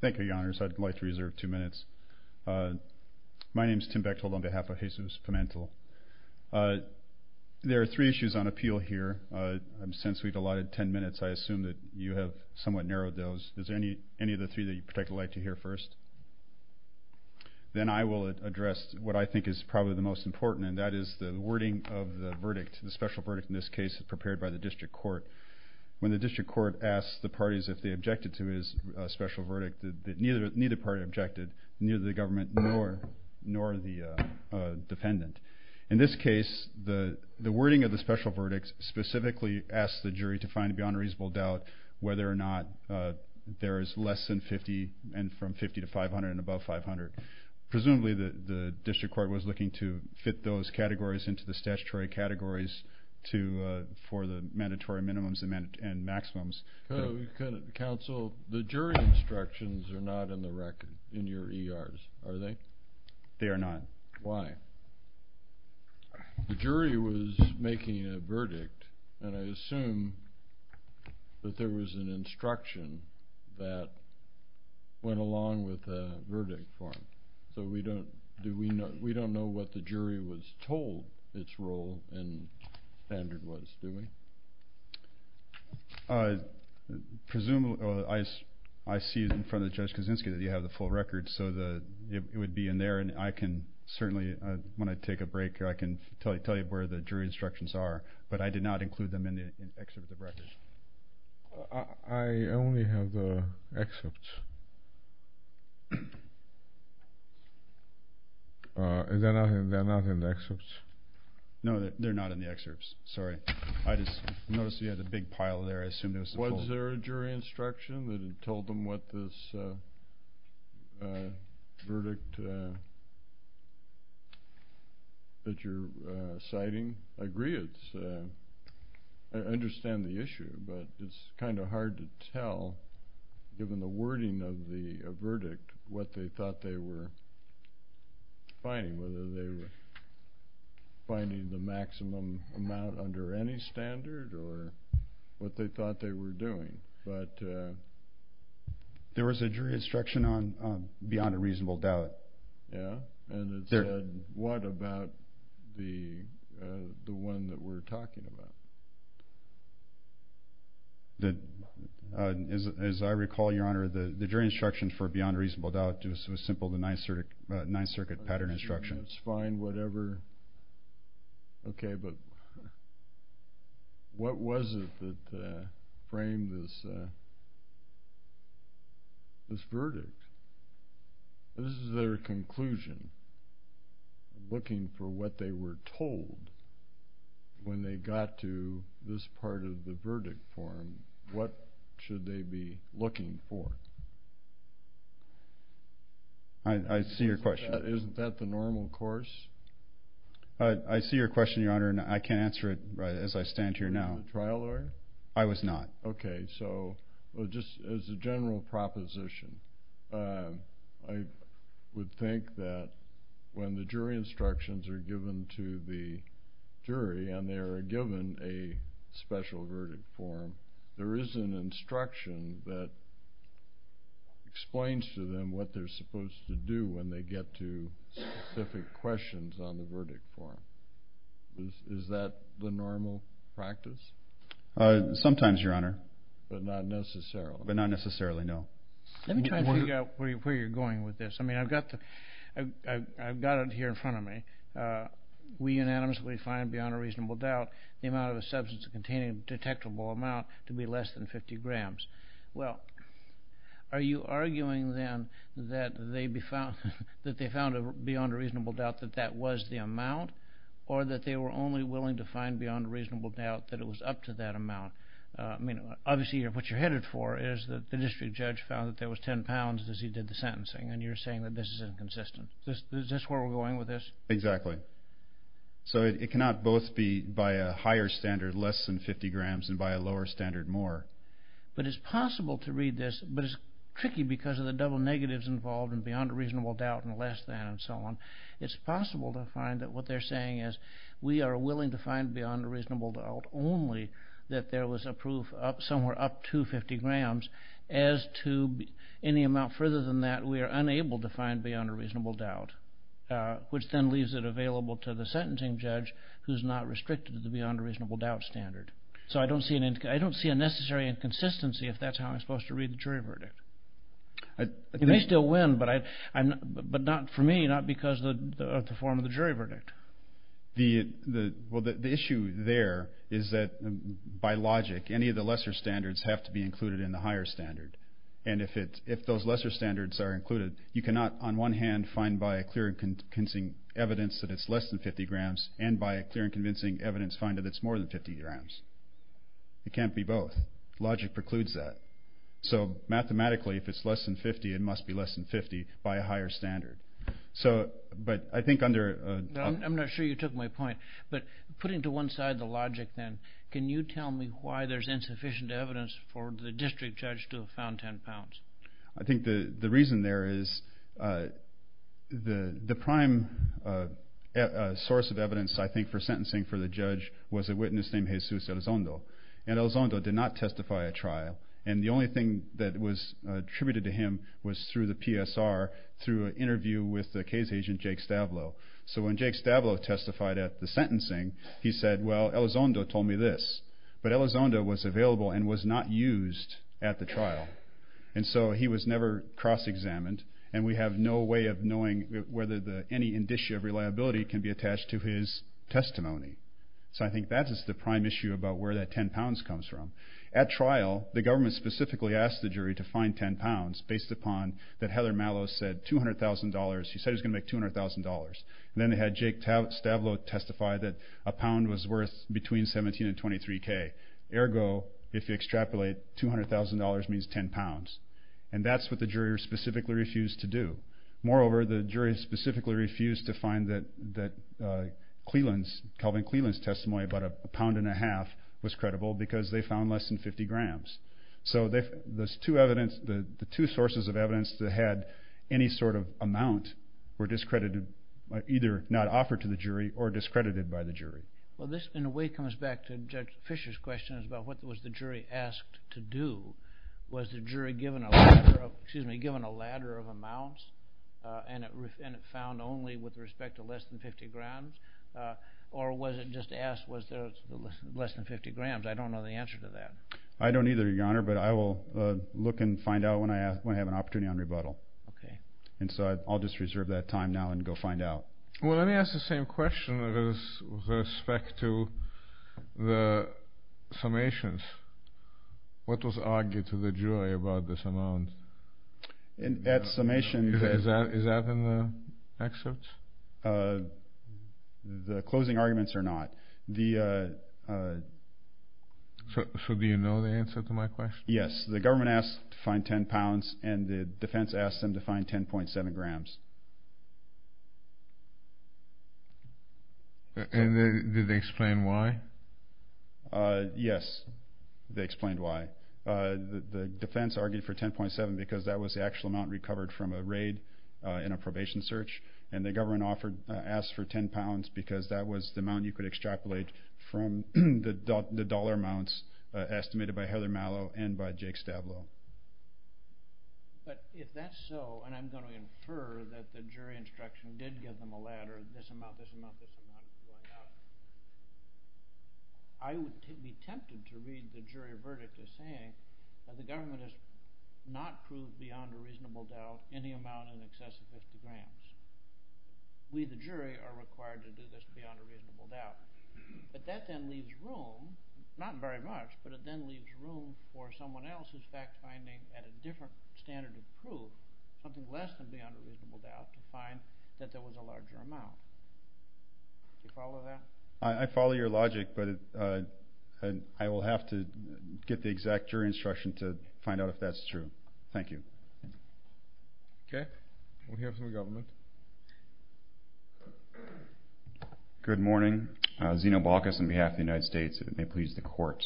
Thank you, Your Honors. I'd like to reserve two minutes. My name is Tim Bechtold on behalf of Jesus Pimentel. There are three issues on appeal here. Since we've allotted ten minutes, I assume that you have somewhat narrowed those. Is there any of the three that you'd particularly like to hear first? Then I will address what I think is probably the most important, and that is the wording of the verdict, the special verdict in this case prepared by the District Court. When the District Court asked the parties if they objected to his special verdict, neither party objected, neither the government nor the defendant. In this case, the wording of the special verdict specifically asked the jury to find beyond a reasonable doubt whether or not there is less than 50 and from 50 to 500 and above 500. Presumably, the District Court was looking to fit those categories into the statutory categories for the mandatory minimums and maximums. Counsel, the jury instructions are not in the record, in your ERs, are they? They are not. Why? The jury was making a verdict, and I assume that there was an instruction that went along with the verdict form. So we don't know what the jury was told its role and standard was, do we? I see in front of Judge Kaczynski that you have the full record, so it would be in there, and I can certainly, when I take a break, I can tell you where the jury instructions are, but I did not include them in the excerpt of the record. I only have the excerpts. They're not in the excerpts. No, they're not in the excerpts, sorry. I just noticed you had a big pile there. I assumed it was the whole thing. Was there a jury instruction that told them what this verdict that you're citing? I agree. I understand the issue, but it's kind of hard to tell, given the wording of the verdict, what they thought they were finding, whether they were finding the maximum amount under any standard or what they thought they were doing. There was a jury instruction on beyond a reasonable doubt. And it said, what about the one that we're talking about? As I recall, Your Honor, the jury instruction for beyond a reasonable doubt was simple, the Ninth Circuit pattern instruction. That's fine, whatever. Okay, but what was it that framed this verdict? This is their conclusion, looking for what they were told when they got to this part of the verdict form. What should they be looking for? I see your question. Isn't that the normal course? I see your question, Your Honor, and I can't answer it as I stand here now. You're not a trial lawyer? I was not. Okay, so just as a general proposition, I would think that when the jury instructions are given to the jury and they are given a special verdict form, there is an instruction that explains to them what they're supposed to do when they get to specific questions on the verdict form. Is that the normal practice? Sometimes, Your Honor. But not necessarily? But not necessarily, no. Let me try and figure out where you're going with this. I mean, I've got it here in front of me. We unanimously find beyond a reasonable doubt the amount of a substance containing a detectable amount to be less than 50 grams. Well, are you arguing then that they found beyond a reasonable doubt that that was the amount or that they were only willing to find beyond a reasonable doubt that it was up to that amount? I mean, obviously what you're headed for is that the district judge found that there was 10 pounds as he did the sentencing, and you're saying that this is inconsistent. Is this where we're going with this? Exactly. So it cannot both be by a higher standard less than 50 grams and by a lower standard more. But it's possible to read this, but it's tricky because of the double negatives involved and beyond a reasonable doubt and less than and so on. It's possible to find that what they're saying is we are willing to find beyond a reasonable doubt only that there was a proof somewhere up to 50 grams as to any amount further than that we are unable to find beyond a reasonable doubt, which then leaves it available to the sentencing judge who's not restricted to the beyond a reasonable doubt standard. So I don't see a necessary inconsistency if that's how I'm supposed to read the jury verdict. You may still win, but not for me, not because of the form of the jury verdict. The issue there is that by logic any of the lesser standards have to be included in the higher standard. And if those lesser standards are included, you cannot on one hand find by a clear and convincing evidence that it's less than 50 grams and by a clear and convincing evidence find that it's more than 50 grams. It can't be both. Logic precludes that. So mathematically if it's less than 50, it must be less than 50 by a higher standard. But I think under... I'm not sure you took my point, but putting to one side the logic then, can you tell me why there's insufficient evidence for the district judge to have found 10 pounds? I think the reason there is the prime source of evidence I think for sentencing for the judge was a witness named Jesus Elizondo. And Elizondo did not testify at trial. And the only thing that was attributed to him was through the PSR, through an interview with the case agent Jake Stavlow. So when Jake Stavlow testified at the sentencing, he said, well, Elizondo told me this, but Elizondo was available and was not used at the trial. And so he was never cross-examined, and we have no way of knowing whether any indicia of reliability can be attached to his testimony. So I think that is the prime issue about where that 10 pounds comes from. At trial, the government specifically asked the jury to find 10 pounds based upon that Heather Mallow said $200,000. She said it was going to make $200,000. And then they had Jake Stavlow testify that a pound was worth between 17 and 23 K. Ergo, if you extrapolate, $200,000 means 10 pounds. And that's what the jury specifically refused to do. Moreover, the jury specifically refused to find that Calvin Cleland's testimony about a pound and a half was credible because they found less than 50 grams. So the two sources of evidence that had any sort of amount were discredited, either not offered to the jury or discredited by the jury. Well, this in a way comes back to Judge Fisher's question about what was the jury asked to do. Was the jury given a ladder of amounts and it found only with respect to less than 50 grams? Or was it just asked was there less than 50 grams? I don't know the answer to that. I don't either, Your Honor, but I will look and find out when I have an opportunity on rebuttal. And so I'll just reserve that time now and go find out. Well, let me ask the same question with respect to the summations. What was argued to the jury about this amount? At summation. Is that in the excerpts? The closing arguments are not. So do you know the answer to my question? Yes. The government asked to find 10 pounds and the defense asked them to find 10.7 grams. And did they explain why? Yes, they explained why. The defense argued for 10.7 because that was the actual amount recovered from a raid in a probation search. And the government asked for 10 pounds because that was the amount you could extrapolate from the dollar amounts estimated by Heather Mallow and by Jake Stablo. But if that's so, and I'm going to infer that the jury instruction did give them a ladder, this amount, this amount, this amount, this amount, I would be tempted to read the jury verdict as saying that the government has not proved beyond a reasonable doubt any amount in excess of 50 grams. We, the jury, are required to do this beyond a reasonable doubt. But that then leaves room, not very much, but it then leaves room for someone else's fact-finding at a different standard of proof, something less than beyond a reasonable doubt, to find that there was a larger amount. Do you follow that? I follow your logic, but I will have to get the exact jury instruction to find out if that's true. Thank you. Okay. We'll hear from the government. Good morning. Zeno Balkas on behalf of the United States. It may please the court.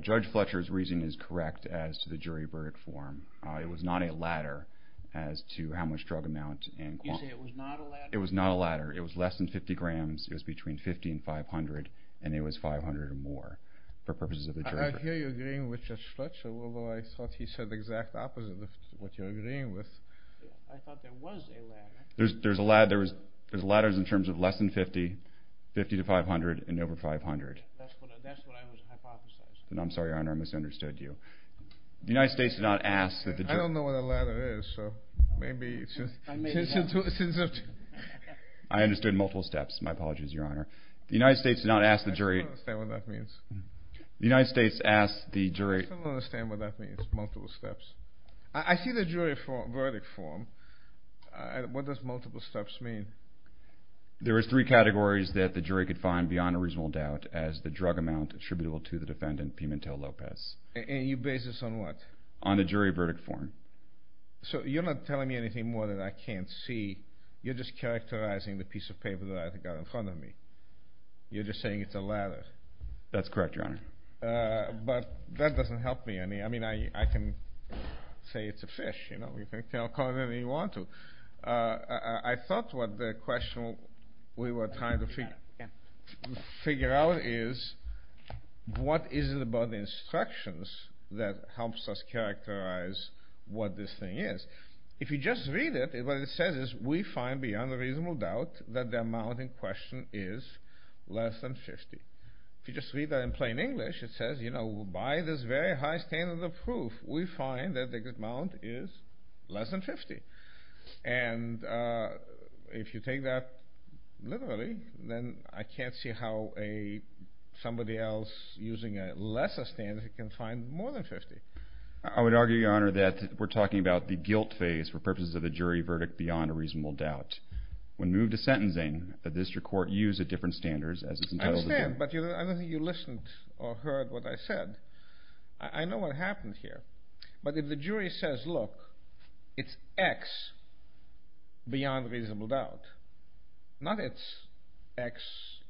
Judge Fletcher's reason is correct as to the jury verdict form. It was not a ladder as to how much drug amount and quantity. You say it was not a ladder? It was not a ladder. It was less than 50 grams. It was between 50 and 500, and it was 500 or more for purposes of the jury. I hear you agreeing with Judge Fletcher, although I thought he said the exact opposite of what you're agreeing with. I thought there was a ladder. There's ladders in terms of less than 50, 50 to 500, and over 500. That's what I was hypothesizing. I'm sorry, Your Honor. I misunderstood you. The United States did not ask that the jury. I don't know what a ladder is, so maybe it's just. I understood multiple steps. My apologies, Your Honor. The United States did not ask the jury. I still don't understand what that means. The United States asked the jury. I still don't understand what that means, multiple steps. I see the jury verdict form. What does multiple steps mean? There were three categories that the jury could find beyond a reasonable doubt as the drug amount attributable to the defendant, Pimentel Lopez. And you base this on what? On the jury verdict form. So you're not telling me anything more that I can't see. You're just characterizing the piece of paper that I've got in front of me. You're just saying it's a ladder. That's correct, Your Honor. But that doesn't help me. I mean, I can say it's a fish. You know, you can call it anything you want to. I thought what the question we were trying to figure out is, what is it about the instructions that helps us characterize what this thing is? If you just read it, what it says is, we find beyond a reasonable doubt that the amount in question is less than 50. If you just read that in plain English, it says, you know, by this very high standard of proof, we find that the amount is less than 50. And if you take that literally, then I can't see how somebody else using a lesser standard can find more than 50. I would argue, Your Honor, that we're talking about the guilt phase for purposes of the jury verdict beyond a reasonable doubt. When moved to sentencing, the district court used a different standard. I understand, but I don't think you listened or heard what I said. I know what happened here. But if the jury says, look, it's X beyond reasonable doubt, not it's X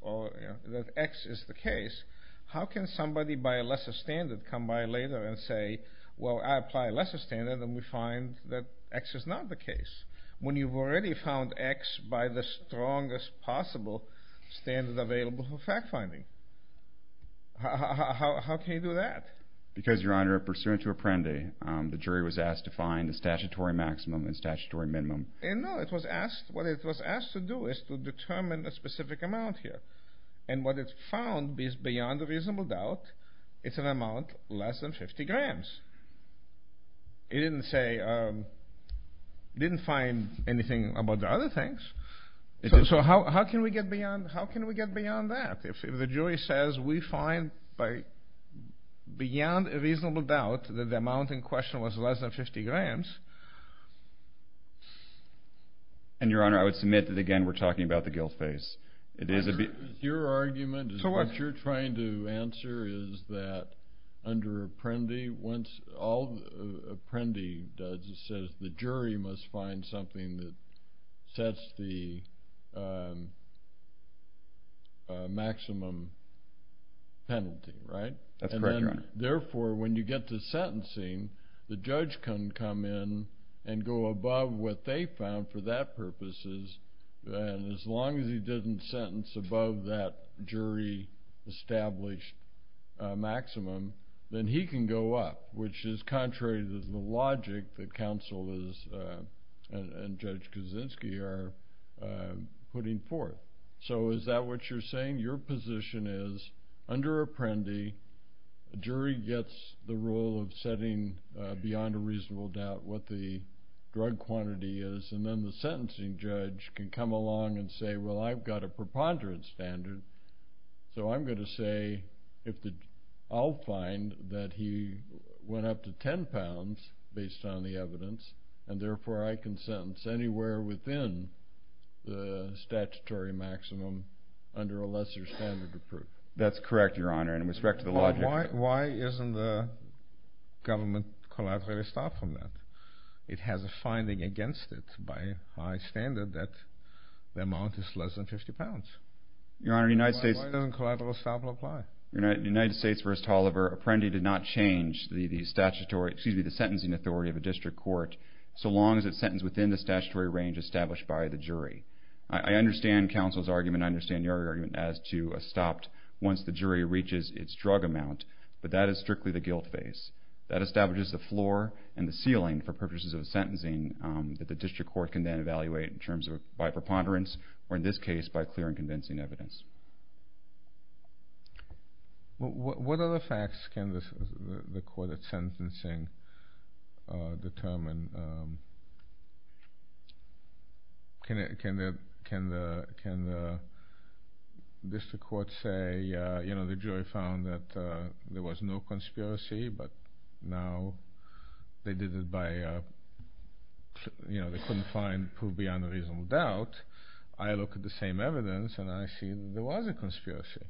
or that X is the case, how can somebody by a lesser standard come by later and say, well, I apply a lesser standard and we find that X is not the case? When you've already found X by the strongest possible standard available for fact-finding. How can you do that? Because, Your Honor, pursuant to Apprendi, the jury was asked to find the statutory maximum and statutory minimum. No, what it was asked to do is to determine a specific amount here. And what it found is beyond a reasonable doubt it's an amount less than 50 grams. It didn't say, it didn't find anything about the other things. So how can we get beyond that? If the jury says we find beyond a reasonable doubt that the amount in question was less than 50 grams. And, Your Honor, I would submit that, again, we're talking about the guilt phase. Your argument is what you're trying to answer is that under Apprendi, once all Apprendi does, it says the jury must find something that sets the maximum penalty, right? That's correct, Your Honor. Therefore, when you get to sentencing, the judge can come in and go above what they found for that purposes. And as long as he didn't sentence above that jury-established maximum, then he can go up, which is contrary to the logic that counsel and Judge Kaczynski are putting forth. So is that what you're saying? Your position is under Apprendi, jury gets the role of setting beyond a reasonable doubt what the drug quantity is, and then the sentencing judge can come along and say, well, I've got a preponderant standard, so I'm going to say I'll find that he went up to 10 pounds based on the evidence, and therefore I can sentence anywhere within the statutory maximum under a lesser standard of proof. That's correct, Your Honor, and in respect to the logic. Why isn't the government collateralized from that? It has a finding against it by high standard that the amount is less than 50 pounds. Why doesn't collateral establishment apply? Your Honor, in the United States v. Oliver, Apprendi did not change the sentencing authority of a district court so long as it's sentenced within the statutory range established by the jury. I understand counsel's argument. I understand your argument as to a stopped once the jury reaches its drug amount, but that is strictly the guilt phase. That establishes the floor and the ceiling for purposes of sentencing that the district court can then evaluate in terms of by preponderance or in this case by clear and convincing evidence. What other facts can the court at sentencing determine? Can the district court say, you know, the jury found that there was no conspiracy, but now they did it by, you know, they couldn't find proof beyond a reasonable doubt. I look at the same evidence and I see there was a conspiracy.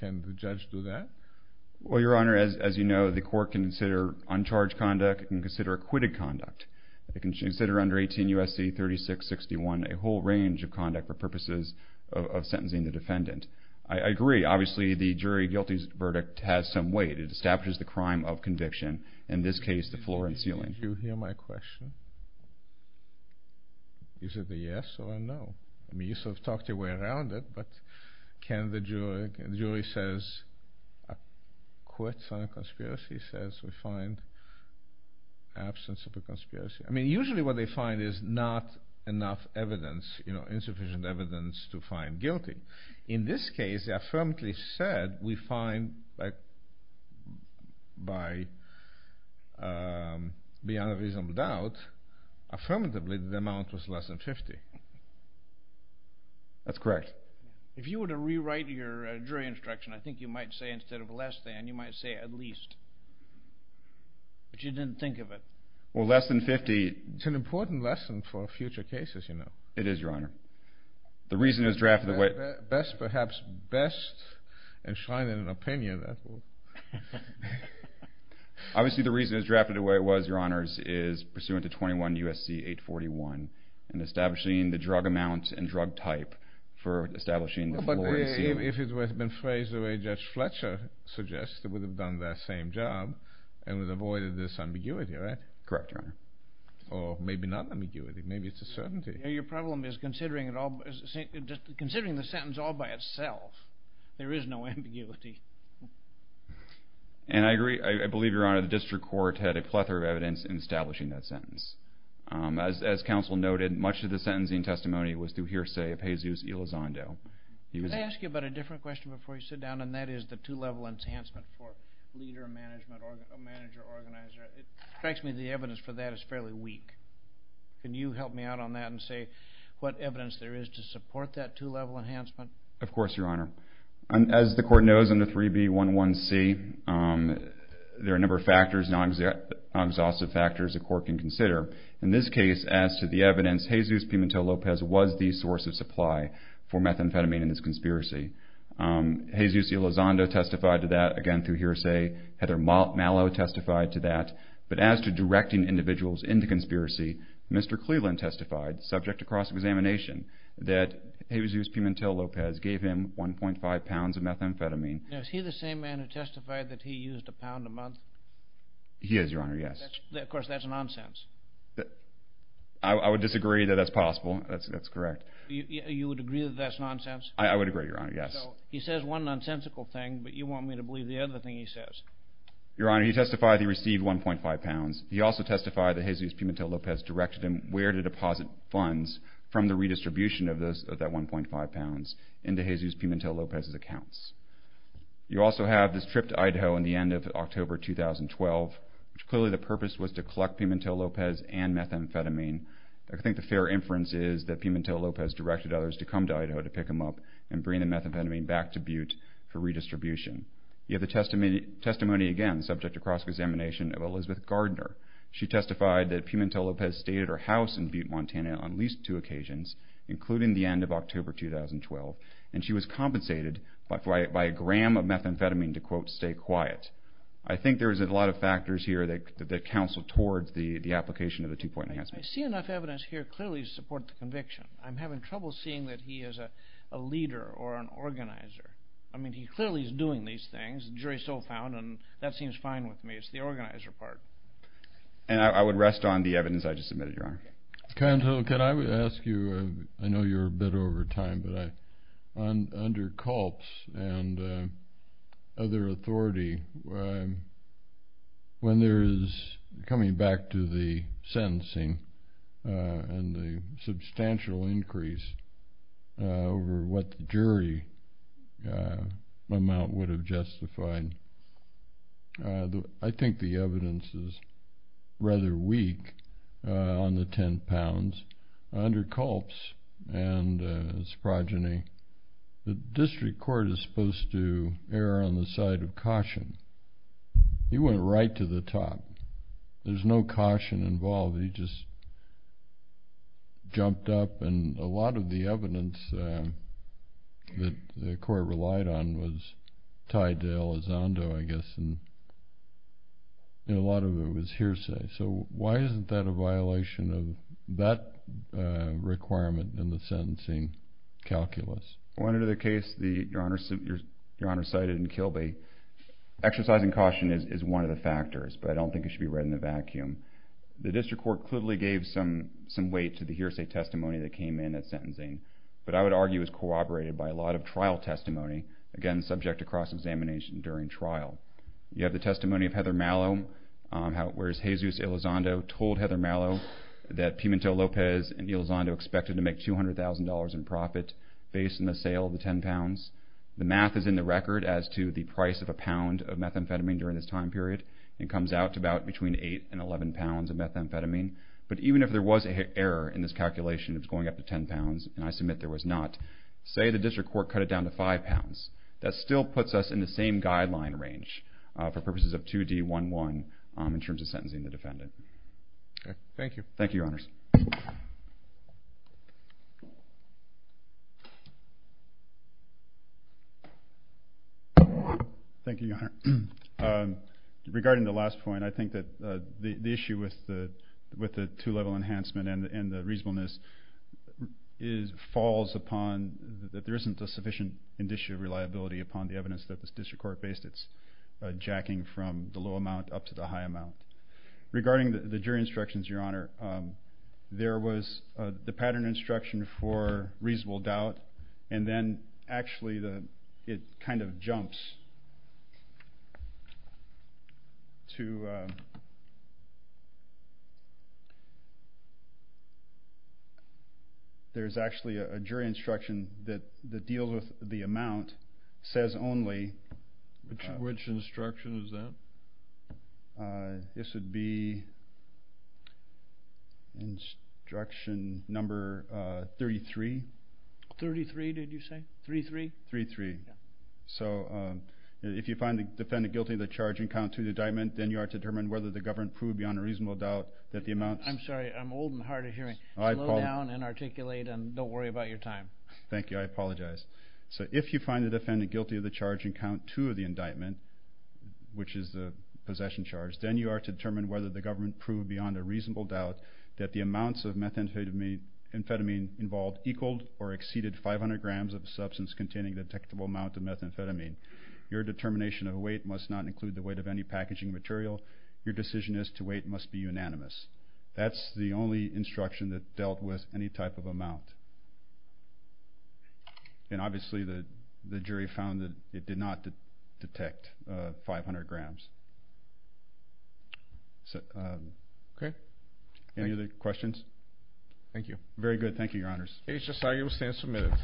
Can the judge do that? Well, Your Honor, as you know, the court can consider uncharged conduct. It can consider acquitted conduct. It can consider under 18 U.S.C. 3661 a whole range of conduct for purposes of sentencing the defendant. I agree. Obviously, the jury guilty verdict has some weight. It establishes the crime of conviction, in this case the floor and ceiling. Did you hear my question? Is it a yes or a no? I mean, you sort of talked your way around it, but can the jury say a court-signed conspiracy says we find absence of a conspiracy? I mean, usually what they find is not enough evidence, you know, insufficient evidence to find guilty. In this case, they affirmatively said we find by beyond a reasonable doubt, affirmatively the amount was less than 50. That's correct. If you were to rewrite your jury instruction, I think you might say instead of less than, you might say at least. But you didn't think of it. Well, less than 50 is an important lesson for future cases, you know. It is, Your Honor. The reason it was drafted the way it was, Your Honor, is pursuant to 21 U.S.C. 841 in establishing the drug amount and drug type for establishing the floor and ceiling. Well, but if it had been phrased the way Judge Fletcher suggested, it would have done that same job and would have avoided this ambiguity, right? Correct, Your Honor. Or maybe not ambiguity. Maybe it's a certainty. Your problem is considering the sentence all by itself. There is no ambiguity. And I agree. I believe, Your Honor, the district court had a plethora of evidence in establishing that sentence. As counsel noted, much of the sentencing testimony was through hearsay of Jesus Elizondo. Can I ask you about a different question before you sit down, and that is the two-level enhancement for leader, manager, organizer. It strikes me the evidence for that is fairly weak. Can you help me out on that and say what evidence there is to support that two-level enhancement? Of course, Your Honor. As the court knows under 3B11C, there are a number of factors, non-exhaustive factors the court can consider. In this case, as to the evidence, Jesus Pimentel Lopez was the source of supply for methamphetamine in this conspiracy. Jesus Elizondo testified to that, again, through hearsay. Heather Mallow testified to that. But as to directing individuals into conspiracy, Mr. Cleveland testified, subject to cross-examination, that Jesus Pimentel Lopez gave him 1.5 pounds of methamphetamine. Is he the same man who testified that he used a pound a month? He is, Your Honor, yes. Of course, that's nonsense. I would disagree that that's possible. That's correct. You would agree that that's nonsense? I would agree, Your Honor, yes. He says one nonsensical thing, but you want me to believe the other thing he says. Your Honor, he testified he received 1.5 pounds. He also testified that Jesus Pimentel Lopez directed him where to deposit funds from the redistribution of that 1.5 pounds into Jesus Pimentel Lopez's accounts. You also have this trip to Idaho in the end of October 2012, which clearly the purpose was to collect Pimentel Lopez and methamphetamine. I think the fair inference is that Pimentel Lopez directed others to come to Idaho to pick him up and bring the methamphetamine back to Butte for redistribution. You have the testimony again subject to cross-examination of Elizabeth Gardner. She testified that Pimentel Lopez stayed at her house in Butte, Montana, on at least two occasions, including the end of October 2012, and she was compensated by a gram of methamphetamine to, quote, stay quiet. I think there's a lot of factors here that counsel towards the application of the two-point enhancement. I see enough evidence here clearly to support the conviction. I'm having trouble seeing that he is a leader or an organizer. I mean, he clearly is doing these things. The jury is still found, and that seems fine with me. It's the organizer part. And I would rest on the evidence I just submitted, Your Honor. Counsel, could I ask you, I know you're a bit over time, but under Culp's and other authority, when there is, coming back to the sentencing and the substantial increase over what the jury amount would have justified, I think the evidence is rather weak on the ten pounds. Under Culp's and his progeny, the district court is supposed to err on the side of caution. He went right to the top. There's no caution involved. He just jumped up, and a lot of the evidence that the court relied on was tied to Elizondo, I guess, and a lot of it was hearsay. So why isn't that a violation of that requirement in the sentencing calculus? Under the case Your Honor cited in Kilby, exercising caution is one of the factors, but I don't think it should be read in a vacuum. The district court clearly gave some weight to the hearsay testimony that came in at sentencing, but I would argue it was corroborated by a lot of trial testimony, again subject to cross-examination during trial. You have the testimony of Heather Mallow, whereas Jesus Elizondo told Heather Mallow that Pimentel Lopez and Elizondo expected to make $200,000 in profit based on the sale of the ten pounds. The math is in the record as to the price of a pound of methamphetamine during this time period, and comes out to about between eight and eleven pounds of methamphetamine. But even if there was an error in this calculation, it was going up to ten pounds, and I submit there was not, say the district court cut it down to five pounds, that still puts us in the same guideline range for purposes of 2D11 in terms of sentencing the defendant. Thank you. Thank you, Your Honors. Thank you, Your Honor. Regarding the last point, I think that the issue with the two-level enhancement and the reasonableness falls upon that there isn't a sufficient indicia of reliability upon the evidence that the district court based its jacking from the low amount up to the high amount. Regarding the jury instructions, Your Honor, there was the pattern instruction for reasonable doubt, and then actually it kind of jumps to there's actually a jury instruction that deals with the amount, says only. Which instruction is that? This would be instruction number 33. Thirty-three, did you say? Three-three? Three-three. So if you find the defendant guilty of the charge and count to the indictment, then you are to determine whether the government proved beyond a reasonable doubt that the amount. I'm sorry. I'm old and hard of hearing. Slow down and articulate, and don't worry about your time. Thank you. I apologize. So if you find the defendant guilty of the charge and count to the indictment, which is the possession charge, then you are to determine whether the government proved beyond a reasonable doubt that the amounts of methamphetamine involved equaled or exceeded 500 grams of a substance containing a detectable amount of methamphetamine. Your determination of weight must not include the weight of any packaging material. Your decision as to weight must be unanimous. That's the only instruction that dealt with any type of amount. And obviously the jury found that it did not detect 500 grams. Okay. Any other questions? Thank you. Very good. Thank you, Your Honors. HSIU stands submitted.